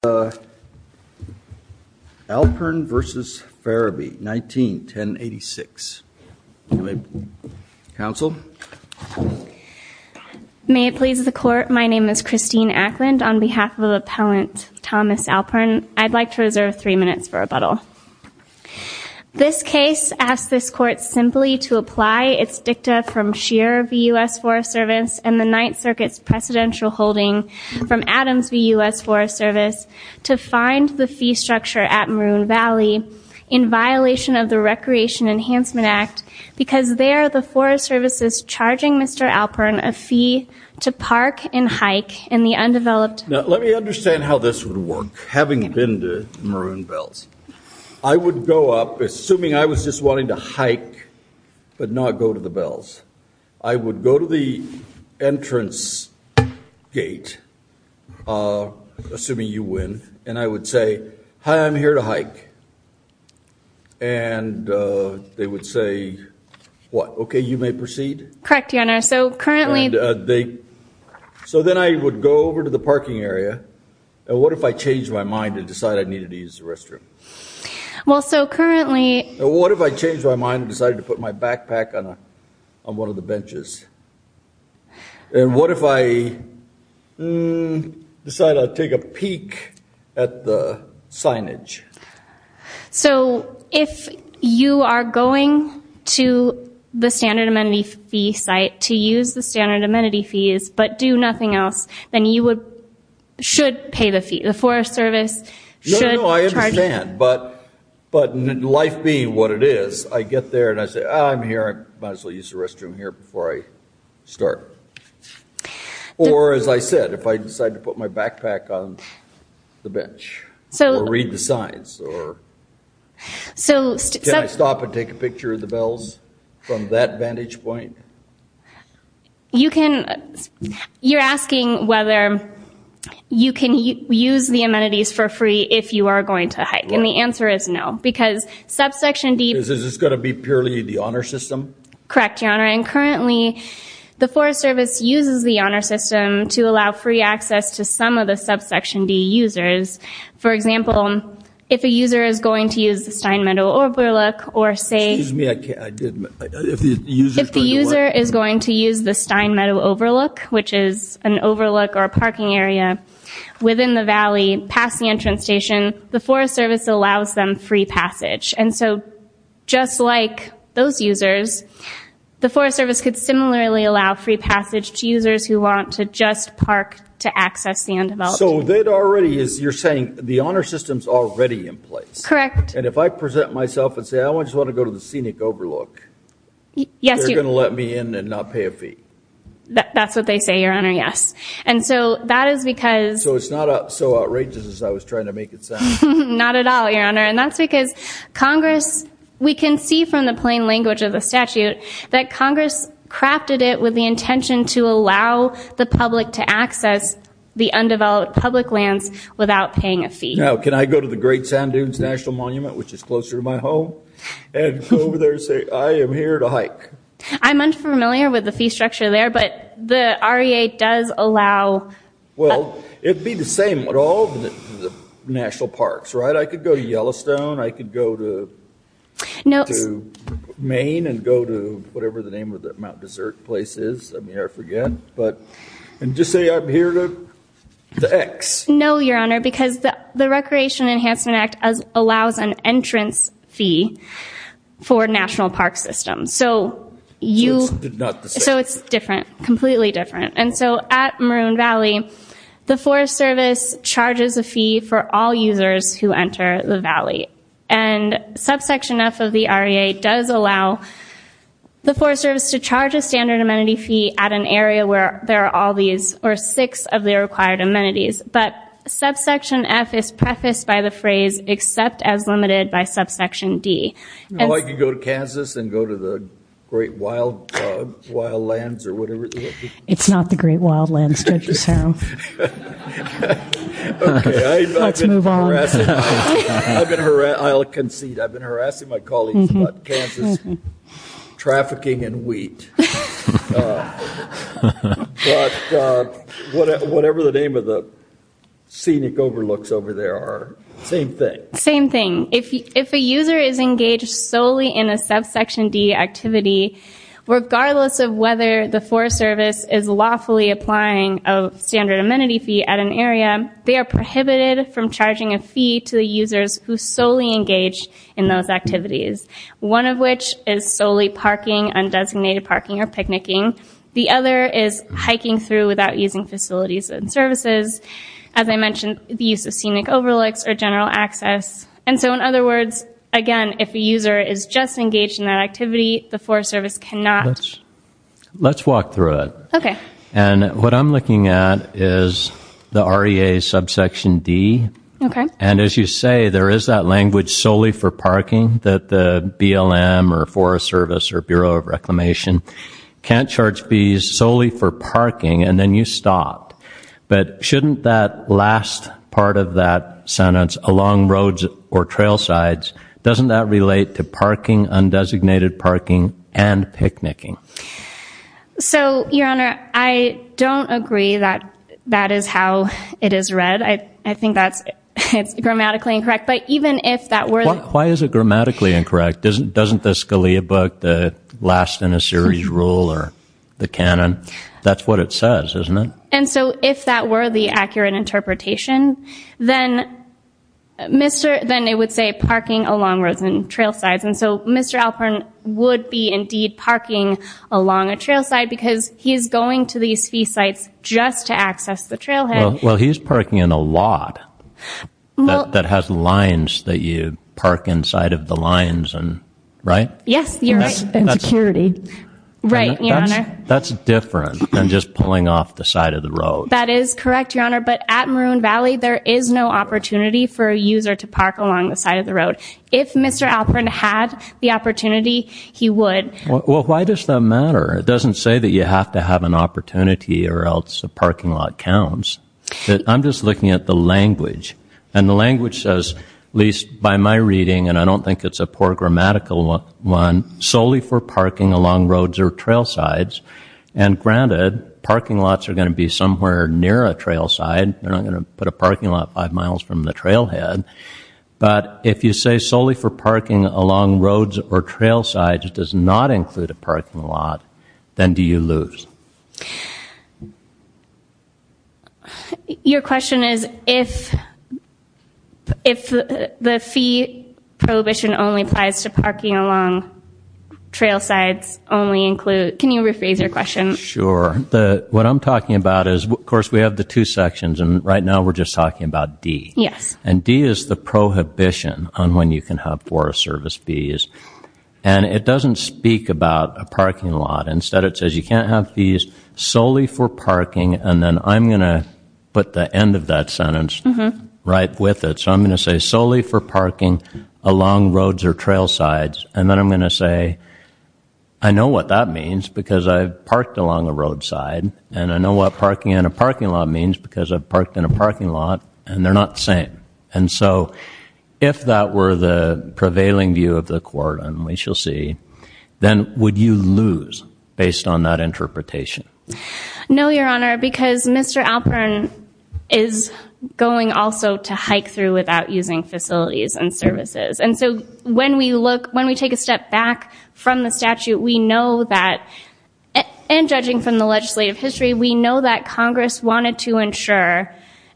May it please the Court, my name is Christine Ackland. On behalf of Appellant Thomas Alpern, I'd like to reserve three minutes for rebuttal. This case asks this Court simply to apply its dicta from Scheer v. U.S. Forest Service and the Ninth Circuit's precedential holding from Adams v. U.S. Forest Service to find the fee structure at Maroon Valley in violation of the Recreation Enhancement Act because there the Forest Service is charging Mr. Alpern a fee to park and hike in the undeveloped Now let me understand how this would work, having been to Maroon Bells. I would go up, assuming I was just wanting to hike, but not go to the bells. I would go to the entrance gate, assuming you win, and I would say, Hi, I'm here to hike. And they would say, what, okay, you may proceed. Correct, Your Honor. So currently, they, so then I would go over to the parking area, and what if I changed my mind and decided I needed to use the restroom? Well so currently, What if I changed my mind and decided to put my backpack on one of the benches? And what if I decided I'd take a peek at the signage? So if you are going to the standard amenity fee site to use the standard amenity fees but do nothing else, then you would, should pay the fee. The Forest Service should charge you No, no, no, I understand, but in life being what it is, I get there and I say, I'm here, might as well use the restroom here before I start. Or as I said, if I decide to put my backpack on the bench, or read the signs, or, can I stop and take a picture of the bells from that vantage point? You can, you're asking whether you can use the amenities for free if you are going to hike. And the answer is no, because subsection D, Is this going to be purely the honor system? Correct, Your Honor, and currently the Forest Service uses the honor system to allow free access to some of the subsection D users. For example, if a user is going to use the Stein Meadow Overlook, or say, Excuse me, I didn't, if the user is going to use the Stein Meadow Overlook, which is an overlook or a parking area within the valley, past the entrance station, the Forest Service allows them free passage. And so, just like those users, the Forest Service could similarly allow free passage to users who want to just park to access the undeveloped. So that already is, you're saying, the honor system's already in place? Correct. And if I present myself and say, I just want to go to the Scenic Overlook, they're going to let me in and not pay a fee? That's what they say, Your Honor, yes. And so, that is because... So it's not so outrageous as I was trying to make it sound? Not at all, Your Honor. And that's because Congress, we can see from the plain language of the statute, that Congress crafted it with the intention to allow the public to access the undeveloped public lands without paying a fee. Now, can I go to the Great Sand Dunes National Monument, which is closer to my home, and go over there and say, I am here to hike? I'm unfamiliar with the fee structure there, but the REA does allow... Well, it'd be the same at all the national parks, right? I could go to Yellowstone, I could go to Maine and go to whatever the name of the Mount Desert place is. I mean, I forget. But... And just say, I'm here to the X. No, Your Honor, because the Recreation Enhancement Act allows an entrance fee for national park systems. So it's different, completely different. And so at Maroon Valley, the Forest Service charges a fee for all users who enter the valley. And subsection F of the REA does allow the Forest Service to charge a standard amenity fee at an area where there are all these, or six of the required amenities. But subsection F is prefaced by the phrase, except as limited by subsection D. Well, I could go to Kansas and go to the Great Wildlands or whatever it is. It's not the Great Wildlands, Judge O'Shaughnessy. Okay. Let's move on. I'll concede. I've been harassing my colleagues about Kansas trafficking in wheat, but whatever the name of the scenic overlooks over there are, same thing. Same thing. If a user is engaged solely in a subsection D activity, regardless of whether the Forest Service is lawfully applying a standard amenity fee at an area, they are prohibited from charging a fee to the users who solely engage in those activities. One of which is solely parking, undesignated parking or picnicking. The other is hiking through without using facilities and services. As I mentioned, the use of scenic overlooks or general access. And so, in other words, again, if a user is just engaged in that activity, the Forest Service cannot... Let's walk through it. Okay. And what I'm looking at is the REA subsection D. Okay. And as you say, there is that language solely for parking that the BLM or Forest Service or Bureau of Reclamation can't charge fees solely for parking, and then you stopped. But shouldn't that last part of that sentence, along roads or trail sides, doesn't that relate to parking, undesignated parking, and picnicking? So, Your Honor, I don't agree that that is how it is read. I think that's grammatically incorrect, but even if that were... Why is it grammatically incorrect? Doesn't the Scalia book, the last in a series rule or the canon, that's what it says, isn't it? And so, if that were the accurate interpretation, then it would say parking along roads and trail sides. And so, Mr. Alpern would be, indeed, parking along a trail side because he's going to these fee sites just to access the trailhead. Well, he's parking in a lot that has lines that you park inside of the lines, right? Yes, you're right. And security. Right, Your Honor. That's different than just pulling off the side of the road. That is correct, Your Honor, but at Maroon Valley, there is no opportunity for a user to park along the side of the road. If Mr. Alpern had the opportunity, he would. Well, why does that matter? It doesn't say that you have to have an opportunity or else a parking lot counts. I'm just looking at the language. And the language says, at least by my reading, and I don't think it's a poor grammatical one, solely for parking along roads or trail sides. And granted, parking lots are going to be somewhere near a trail side. They're not going to put a parking lot five miles from the trailhead. But if you say solely for parking along roads or trail sides does not include a parking lot, then do you lose? Your question is, if the fee prohibition only applies to parking along trail sides, can you rephrase your question? Sure. What I'm talking about is, of course, we have the two sections, and right now we're just talking about D. Yes. And D is the prohibition on when you can have Forest Service fees. And it doesn't speak about a parking lot. Instead, it says you can't have fees solely for parking. And then I'm going to put the end of that sentence right with it. So I'm going to say solely for parking along roads or trail sides. And then I'm going to say, I know what that means, because I've parked along a roadside. And I know what parking in a parking lot means, because I've parked in a parking lot. And they're not the same. And so if that were the prevailing view of the court, and we shall see, then would you lose based on that interpretation? No, Your Honor, because Mr. Alpern is going also to hike through without using facilities and services. And so when we take a step back from the statute, and judging from the legislative history, we know that Congress wanted to insure.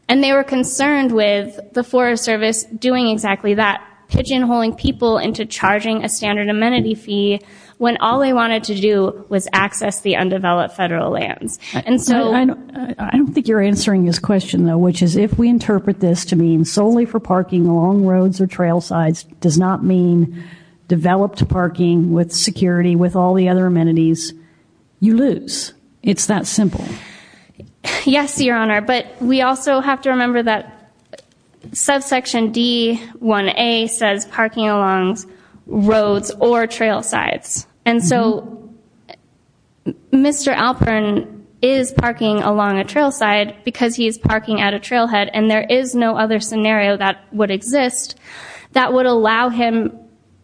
And they were concerned with the Forest Service doing exactly that, pigeonholing people into charging a standard amenity fee, when all they wanted to do was access the undeveloped federal lands. And so- I don't think you're answering this question, though, which is if we interpret this to mean solely for parking along roads or trail sides does not mean developed parking with security with all the other amenities, you lose. It's that simple. Yes, Your Honor. But we also have to remember that subsection D-1A says parking along roads or trail sides. And so Mr. Alpern is parking along a trail side because he is parking at a trailhead. And there is no other scenario that would exist that would allow him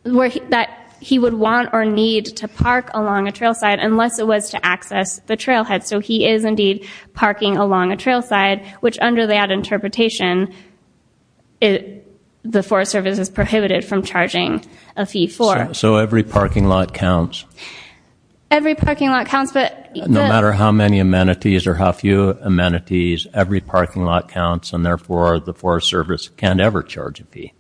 that he would want or need to park along a trail side unless it was to access the trailhead. So he is indeed parking along a trail side, which under that interpretation, the Forest Service is prohibited from charging a fee for. So every parking lot counts? Every parking lot counts, but- No matter how many amenities or how few amenities, every parking lot counts, and therefore the Forest Service can't ever charge a fee.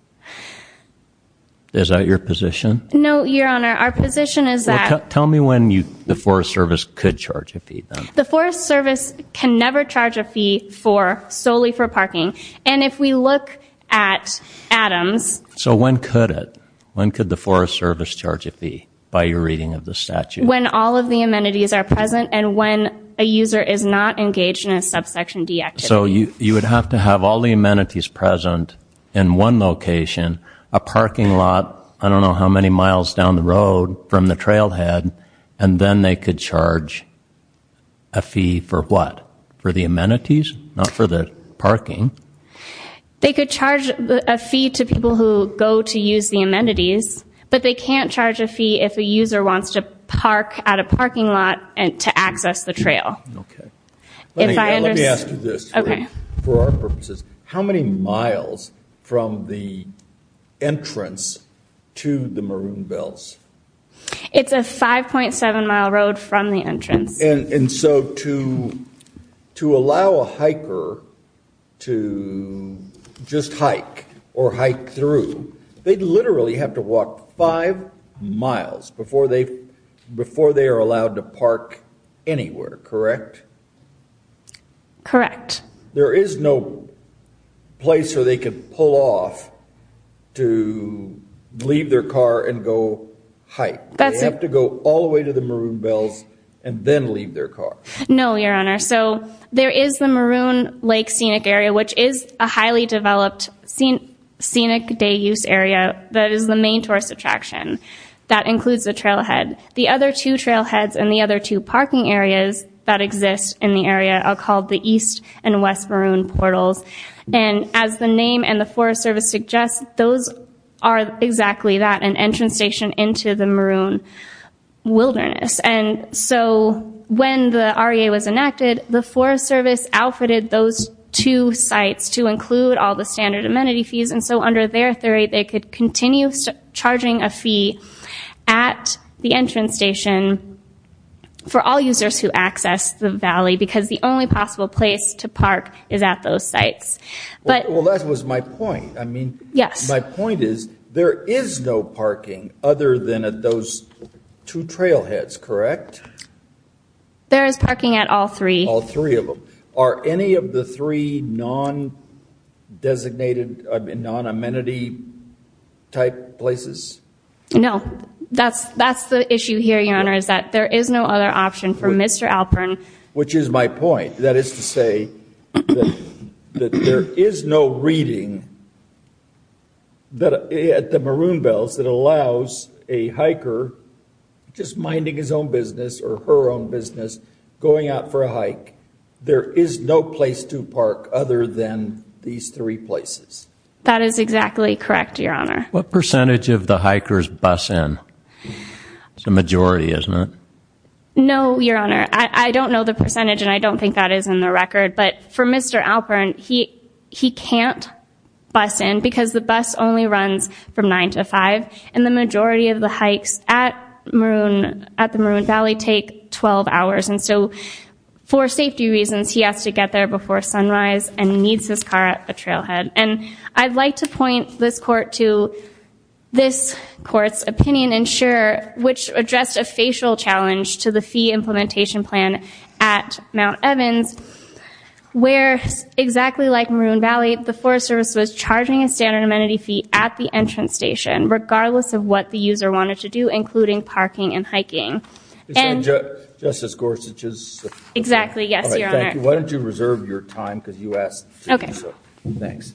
Is that your position? No, Your Honor. Our position is that- Well, tell me when the Forest Service could charge a fee, then. The Forest Service can never charge a fee for, solely for parking. And if we look at Adams- So when could it? When could the Forest Service charge a fee by your reading of the statute? When all of the amenities are present and when a user is not engaged in a subsection D activity. So you would have to have all the amenities present in one location, a parking lot I don't a fee for what? For the amenities, not for the parking? They could charge a fee to people who go to use the amenities, but they can't charge a fee if a user wants to park at a parking lot to access the trail. Okay. Let me ask you this, for our purposes. How many miles from the entrance to the Maroon Bells? It's a 5.7 mile road from the entrance. And so to, to allow a hiker to just hike or hike through, they'd literally have to walk five miles before they, before they are allowed to park anywhere, correct? Correct. There is no place where they can pull off to leave their car and go hike. They have to go all the way to the Maroon Bells and then leave their car. No, your honor. So there is the Maroon Lake Scenic Area, which is a highly developed scenic day use area that is the main tourist attraction that includes the trailhead. The other two trailheads and the other two parking areas that exist in the area are called the East and West Maroon Portals. And as the name and the Forest Service suggests, those are exactly that, an entrance station into the maroon wilderness. And so when the REA was enacted, the Forest Service outfitted those two sites to include all the standard amenity fees. And so under their theory, they could continue charging a fee at the entrance station for all users who access the valley, because the only possible place to park is at those sites. Well, that was my point. I mean, yes. My point is there is no parking other than at those two trailheads, correct? There is parking at all three. All three of them. Are any of the three non-designated, non-amenity type places? No, that's the issue here, your honor, is that there is no other option for Mr. Alpern. Which is my point. That is to say that there is no reading at the Maroon Bells that allows a hiker, just minding his own business or her own business, going out for a hike. There is no place to park other than these three places. That is exactly correct, your honor. What percentage of the hikers bus in? It's a majority, isn't it? No, your honor. I don't know the percentage, and I don't think that is in the record. But for Mr. Alpern, he can't bus in, because the bus only runs from 9 to 5. And the majority of the hikes at the Maroon Valley take 12 hours. And so for safety reasons, he has to get there before sunrise, and he needs his car at the trailhead. And I'd like to point this court to this court's opinion, which addressed a facial challenge to the fee implementation plan at Mount Evans, where, exactly like Maroon Valley, the Forest Service was charging a standard amenity fee at the entrance station, regardless of what the user wanted to do, including parking and hiking. Justice Gorsuch's? Exactly, yes, your honor. All right, thank you. Why don't you reserve your time, because you asked to do so. Okay. Thanks.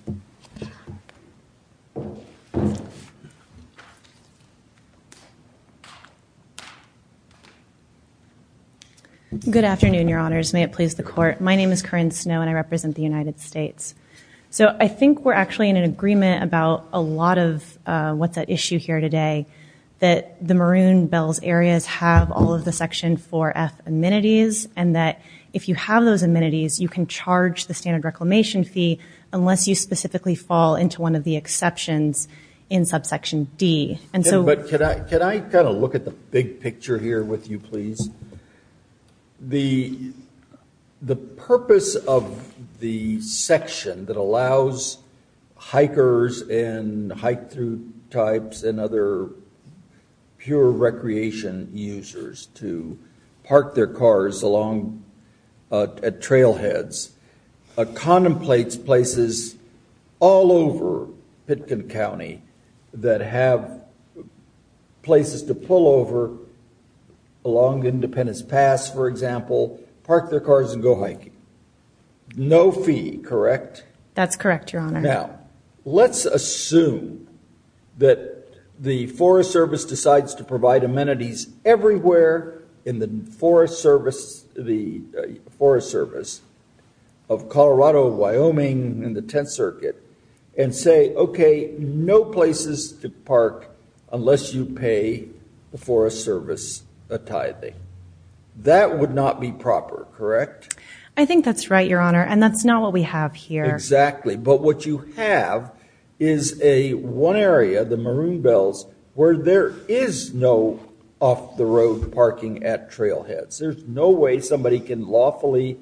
Good afternoon, your honors. May it please the court. My name is Corinne Snow, and I represent the United States. So I think we're actually in an agreement about a lot of what's at issue here today, that the Maroon Bells areas have all of the Section 4F amenities, and that if you have those amenities, you can charge the standard reclamation fee, unless you specifically fall into one of the exceptions in subsection D. But can I kind of look at the big picture here with you, please? The purpose of the section that allows hikers and hike-through types and other pure recreation users to park their cars at trailheads contemplates places all over Pitkin County that have places to pull over along Independence Pass, for example, park their cars and go hiking. No fee, correct? That's correct, your honor. Now, let's assume that the Forest Service decides to provide amenities everywhere in the Forest Service of Colorado, Wyoming, and the Tenth Circuit, and say, okay, no places to park unless you pay the Forest Service a tithing. That would not be proper, correct? I think that's right, your honor. And that's not what we have here. Exactly. But what you have is a one area, the Maroon Bells, where there is no off-the-road parking at trailheads. There's no way somebody can lawfully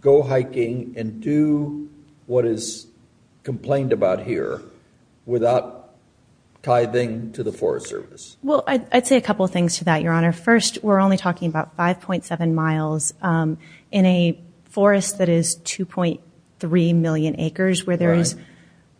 go hiking and do what is complained about here without tithing to the Forest Service. Well, I'd say a couple of things to that, your honor. First, we're only talking about 5.7 miles in a forest that is 2.3 million acres where there is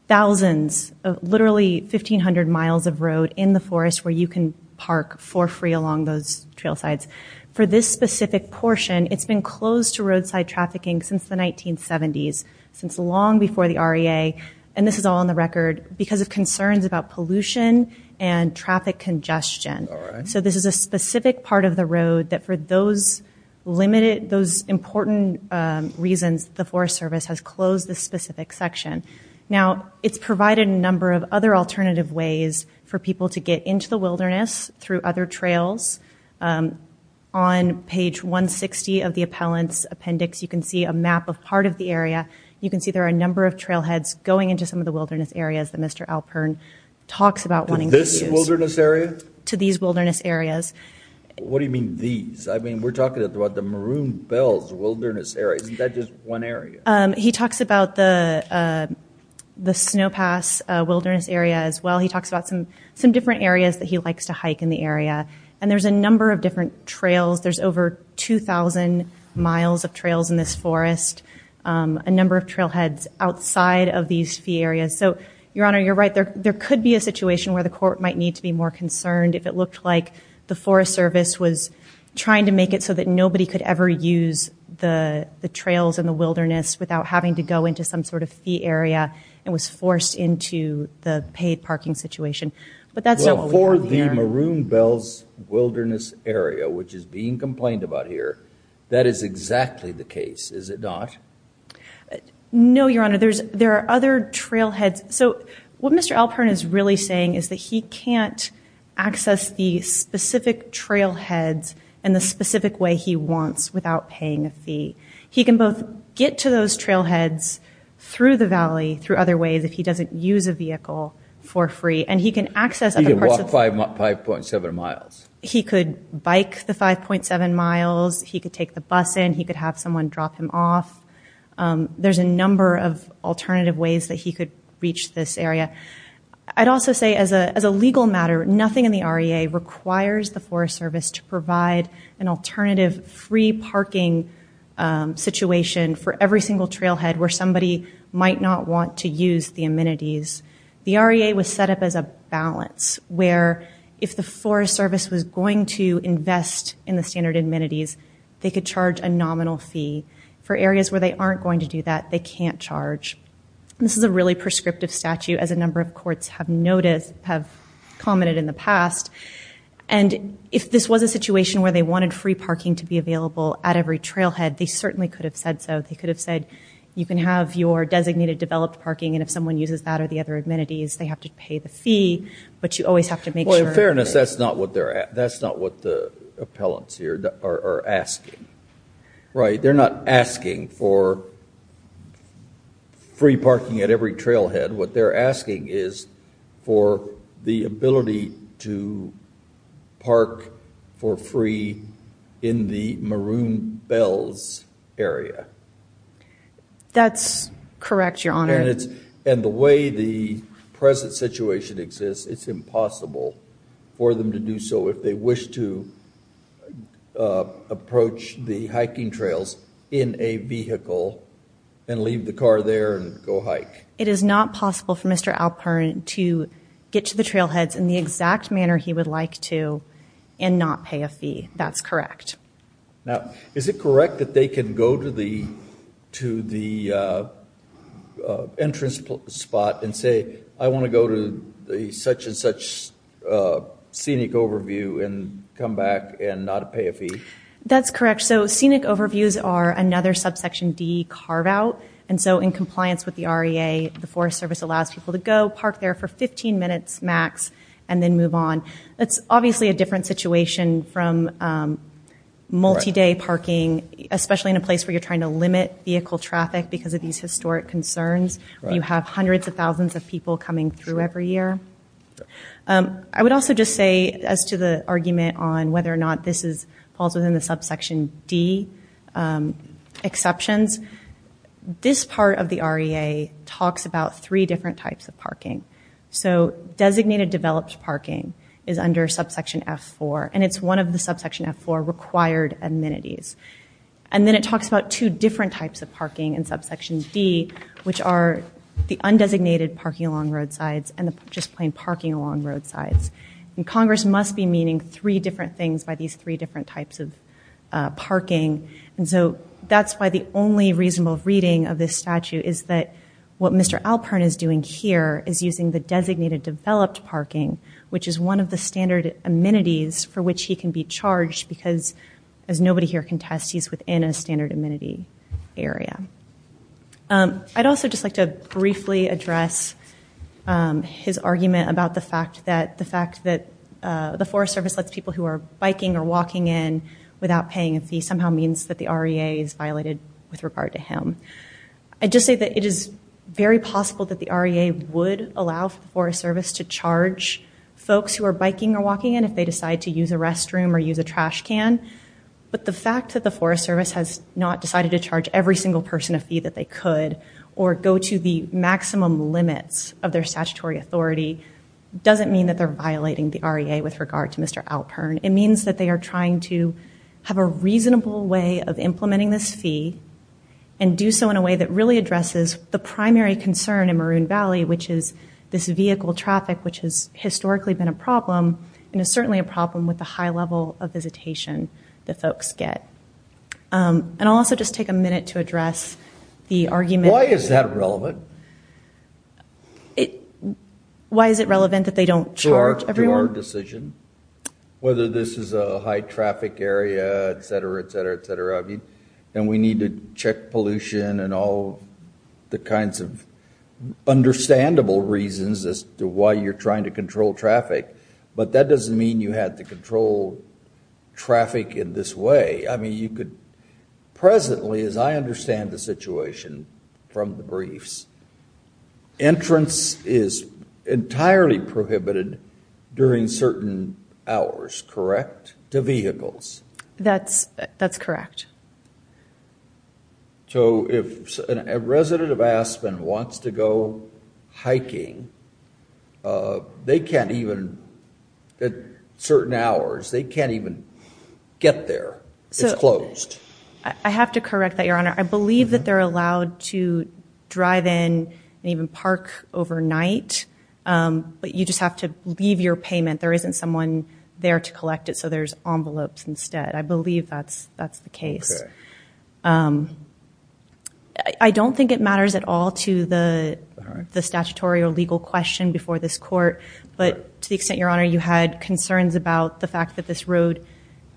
thousands of literally 1,500 miles of road in the forest where you can park for free along those trail sides. For this specific portion, it's been closed to roadside trafficking since the 1970s, since long before the REA, and this is all on the record, because of concerns about pollution and traffic congestion. All right. So this is a specific part of the road that, for those important reasons, the Forest Service has closed this specific section. Now, it's provided a number of other alternative ways for people to get into the wilderness through other trails. On page 160 of the appellant's appendix, you can see a map of part of the area. You can see there are a number of trailheads going into some of the wilderness areas that Mr. Alpern talks about wanting to use. To this wilderness area? To these wilderness areas. What do you mean, these? I mean, we're talking about the Maroon Bells Wilderness Area. Isn't that just one area? He talks about the Snow Pass Wilderness Area as well. He talks about some different areas that he likes to hike in the area, and there's a number of different trails. There's over 2,000 miles of trails in this forest, a number of trailheads outside of these fee areas. So, Your Honor, you're right, there could be a situation where the court might need to be more concerned if it looked like the Forest Service was trying to make it so that nobody could ever use the trails in the wilderness without having to go into some sort of fee area and was forced into the paid parking situation. But that's not what we're talking about here. Well, for the Maroon Bells Wilderness Area, which is being complained about here, that is exactly the case, is it not? No, Your Honor, there are other trailheads. So, what Mr. Alpern is really saying is that he can't access the specific trailheads in the specific way he wants without paying a fee. He can both get to those trailheads through the valley, through other ways, if he doesn't use a vehicle for free, and he can access other parts of the forest. He can walk 5.7 miles. He could bike the 5.7 miles. He could take the bus in. He could have someone drop him off. There's a number of alternative ways that he could reach this area. I'd also say, as a legal matter, nothing in the REA requires the Forest Service to provide an alternative free parking situation for every single trailhead where somebody might not want to use the amenities. The REA was set up as a balance, where if the Forest Service was going to invest in the standard amenities, they could charge a nominal fee. For areas where they aren't going to do that, they can't charge. This is a really prescriptive statute, as a number of courts have noticed, have commented in the past, and if this was a situation where they wanted free parking to be available at every trailhead, they certainly could have said so. They could have said, you can have your designated developed parking, and if someone uses that or the other amenities, they have to pay the fee, but you always have to make sure. Well, in fairness, that's not what the appellants here are asking, right? They're not asking for free parking at every trailhead. What they're asking is for the ability to park for free in the Maroon Bells area. That's correct, Your Honor. The way the present situation exists, it's impossible for them to do so if they wish to approach the hiking trails in a vehicle and leave the car there and go hike. It is not possible for Mr. Alpern to get to the trailheads in the exact manner he would like to and not pay a fee. That's correct. Now, is it correct that they can go to the entrance spot and say, I want to go to such and such scenic overview and come back and not pay a fee? That's correct. So scenic overviews are another subsection D carve out, and so in compliance with the REA, the Forest Service allows people to go park there for 15 minutes max and then move on. That's obviously a different situation from multi-day parking, especially in a place where you're trying to limit vehicle traffic because of these historic concerns where you have hundreds of thousands of people coming through every year. I would also just say, as to the argument on whether or not this falls within the subsection D exceptions, this part of the REA talks about three different types of parking. So designated developed parking is under subsection F4, and it's one of the subsection F4 required amenities. And then it talks about two different types of parking in subsection D, which are the undesignated parking along roadsides and the just plain parking along roadsides. And Congress must be meaning three different things by these three different types of parking. And so that's why the only reasonable reading of this statute is that what Mr. Alpern is doing here is using the designated developed parking, which is one of the standard amenities for which he can be charged because, as nobody here can test, he's within a standard amenity area. I'd also just like to briefly address his argument about the fact that the Forest Service lets people who are biking or walking in without paying a fee somehow means that the REA is violated with regard to him. I'd just say that it is very possible that the REA would allow the Forest Service to charge folks who are biking or walking in if they decide to use a restroom or use a trash can, but the fact that the Forest Service has not decided to charge every single person a fee that they could or go to the maximum limits of their statutory authority doesn't mean that they're violating the REA with regard to Mr. Alpern. It means that they are trying to have a reasonable way of implementing this fee and do so in a way that really addresses the primary concern in Maroon Valley, which is this vehicle traffic, which has historically been a problem and is certainly a problem with the high level of visitation that folks get. And I'll also just take a minute to address the argument... Why is that relevant? Why is it relevant that they don't charge everyone? It's our decision, whether this is a high traffic area, et cetera, et cetera, et cetera. And we need to check pollution and all the kinds of understandable reasons as to why you're trying to control traffic, but that doesn't mean you have to control traffic in this way. I mean, you could presently, as I understand the situation from the briefs, entrance is during certain hours, correct, to vehicles? That's correct. So if a resident of Aspen wants to go hiking, they can't even, at certain hours, they can't even get there, it's closed. I have to correct that, Your Honor. I believe that they're allowed to drive in and even park overnight, but you just have to leave your payment. There isn't someone there to collect it, so there's envelopes instead. I believe that's the case. I don't think it matters at all to the statutory or legal question before this court, but to the extent, Your Honor, you had concerns about the fact that this road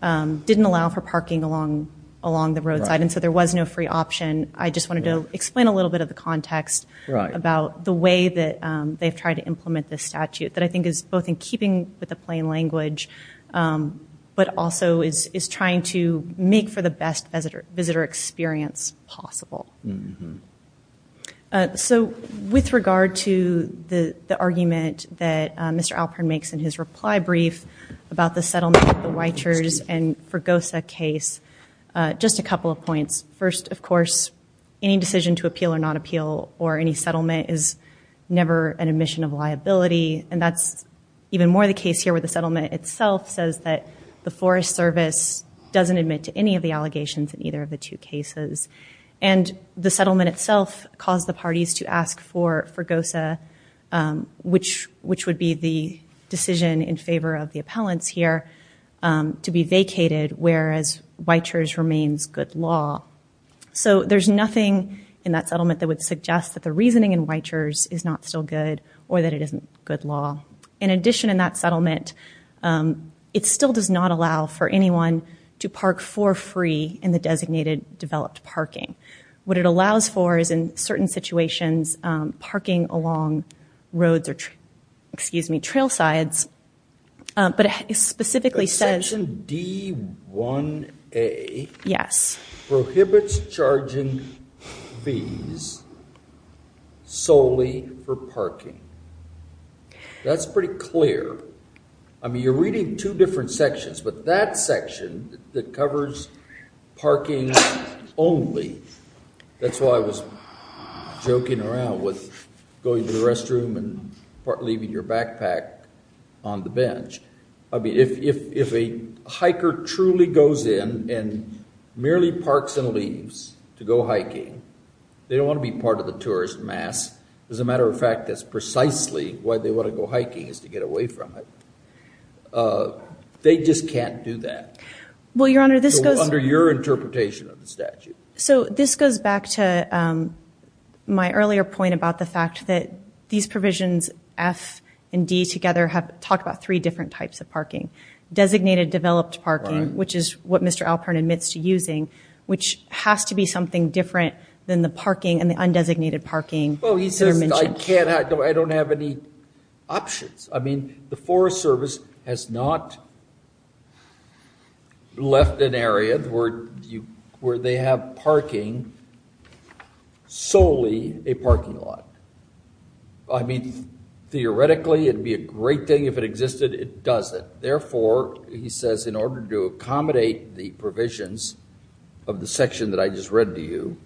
didn't allow for parking along the roadside, and so there was no free option. I just wanted to explain a little bit of the context about the way that they've tried to is both in keeping with the plain language, but also is trying to make for the best visitor experience possible. So with regard to the argument that Mr. Alpern makes in his reply brief about the settlement of the Weichers and Fregosa case, just a couple of points. First, of course, any decision to appeal or not appeal or any settlement is never an admission of liability, and that's even more the case here where the settlement itself says that the Forest Service doesn't admit to any of the allegations in either of the two cases. And the settlement itself caused the parties to ask for Fregosa, which would be the decision in favor of the appellants here, to be vacated whereas Weichers remains good law. So there's nothing in that settlement that would suggest that the reasoning in Weichers is not still good or that it isn't good law. In addition, in that settlement, it still does not allow for anyone to park for free in the designated developed parking. What it allows for is in certain situations, parking along roads or, excuse me, trail sides, but it specifically says- Section D1A prohibits charging fees solely for parking. That's pretty clear. I mean, you're reading two different sections, but that section that covers parking only, that's why I was joking around with going to the restroom and leaving your backpack on the bench. I mean, if a hiker truly goes in and merely parks and leaves to go hiking, they don't want to be part of the tourist mass. As a matter of fact, that's precisely why they want to go hiking is to get away from it. They just can't do that. Well, Your Honor, this goes- Under your interpretation of the statute. This goes back to my earlier point about the fact that these provisions, F and D together, have talked about three different types of parking. Designated developed parking, which is what Mr. Alpern admits to using, which has to be something different than the parking and the undesignated parking that are mentioned. Well, he says, I don't have any options. I mean, the Forest Service has not left an area where they have parking solely a parking lot. I mean, theoretically, it'd be a great thing if it existed. It doesn't. Therefore, he says, in order to accommodate the provisions of the section that I just read to you,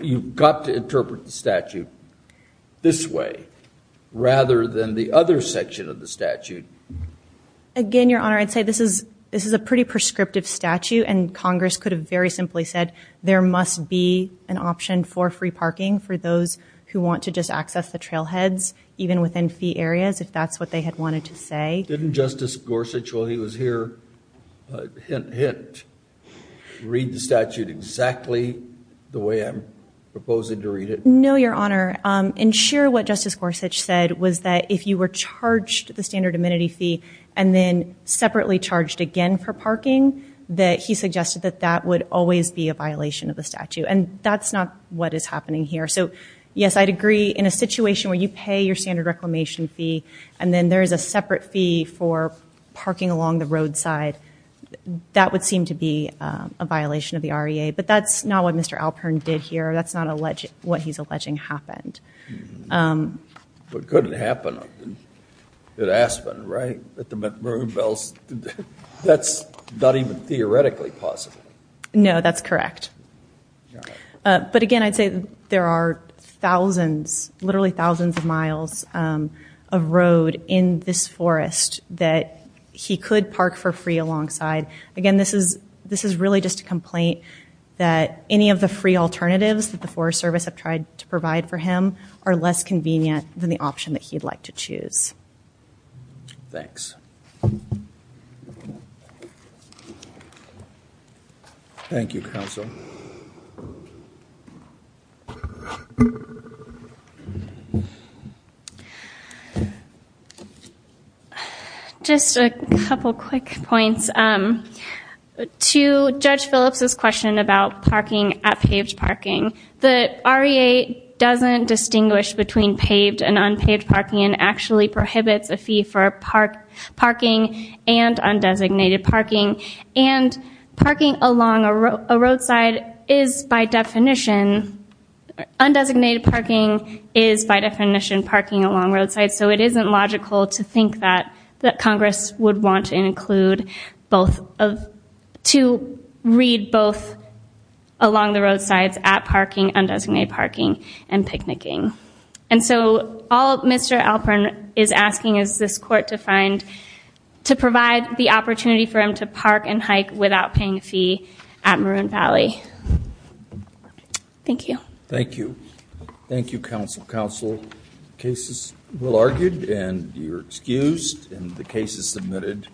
you've got to interpret the statute this way, rather than the other section of the statute. Again, Your Honor, I'd say this is a pretty prescriptive statute, and Congress could have very simply said, there must be an option for free parking for those who want to just access the trailheads, even within fee areas, if that's what they had wanted to say. Didn't Justice Gorsuch, while he was here, hint, hint, read the statute exactly the way I'm proposing to read it? No, Your Honor. And sure, what Justice Gorsuch said was that if you were charged the standard amenity fee and then separately charged again for parking, that he suggested that that would always be a violation of the statute. And that's not what is happening here. So, yes, I'd agree. In a situation where you pay your standard reclamation fee, and then there is a separate fee for parking along the roadside, that would seem to be a violation of the REA. But that's not what Mr. Alpern did here. That's not what he's alleging happened. But could it happen at Aspen, right? At the Maroon Bells? That's not even theoretically possible. No, that's correct. But again, I'd say there are thousands, literally thousands of miles of road in this forest that he could park for free alongside. Again, this is really just a complaint that any of the free alternatives that the Forest Service have tried to provide for him are less convenient than the option that he'd like to choose. Thanks. Thank you, counsel. Just a couple quick points. To Judge Phillips' question about parking at paved parking, the REA doesn't distinguish between paved and unpaved parking and actually prohibits a fee for parking and undesignated parking. And parking along a roadside is, by definition, undesignated parking is, by definition, parking along roadside. So it isn't logical to think that Congress would want to include both of, to read both along the roadsides at parking, undesignated parking, and picnicking. And so all Mr. Alpern is asking is this Court to find, to provide the opportunity for him to park and hike without paying a fee at Maroon Valley. Thank you. Thank you. Thank you, counsel. Counsel, the case is well argued and you're excused and the case is submitted.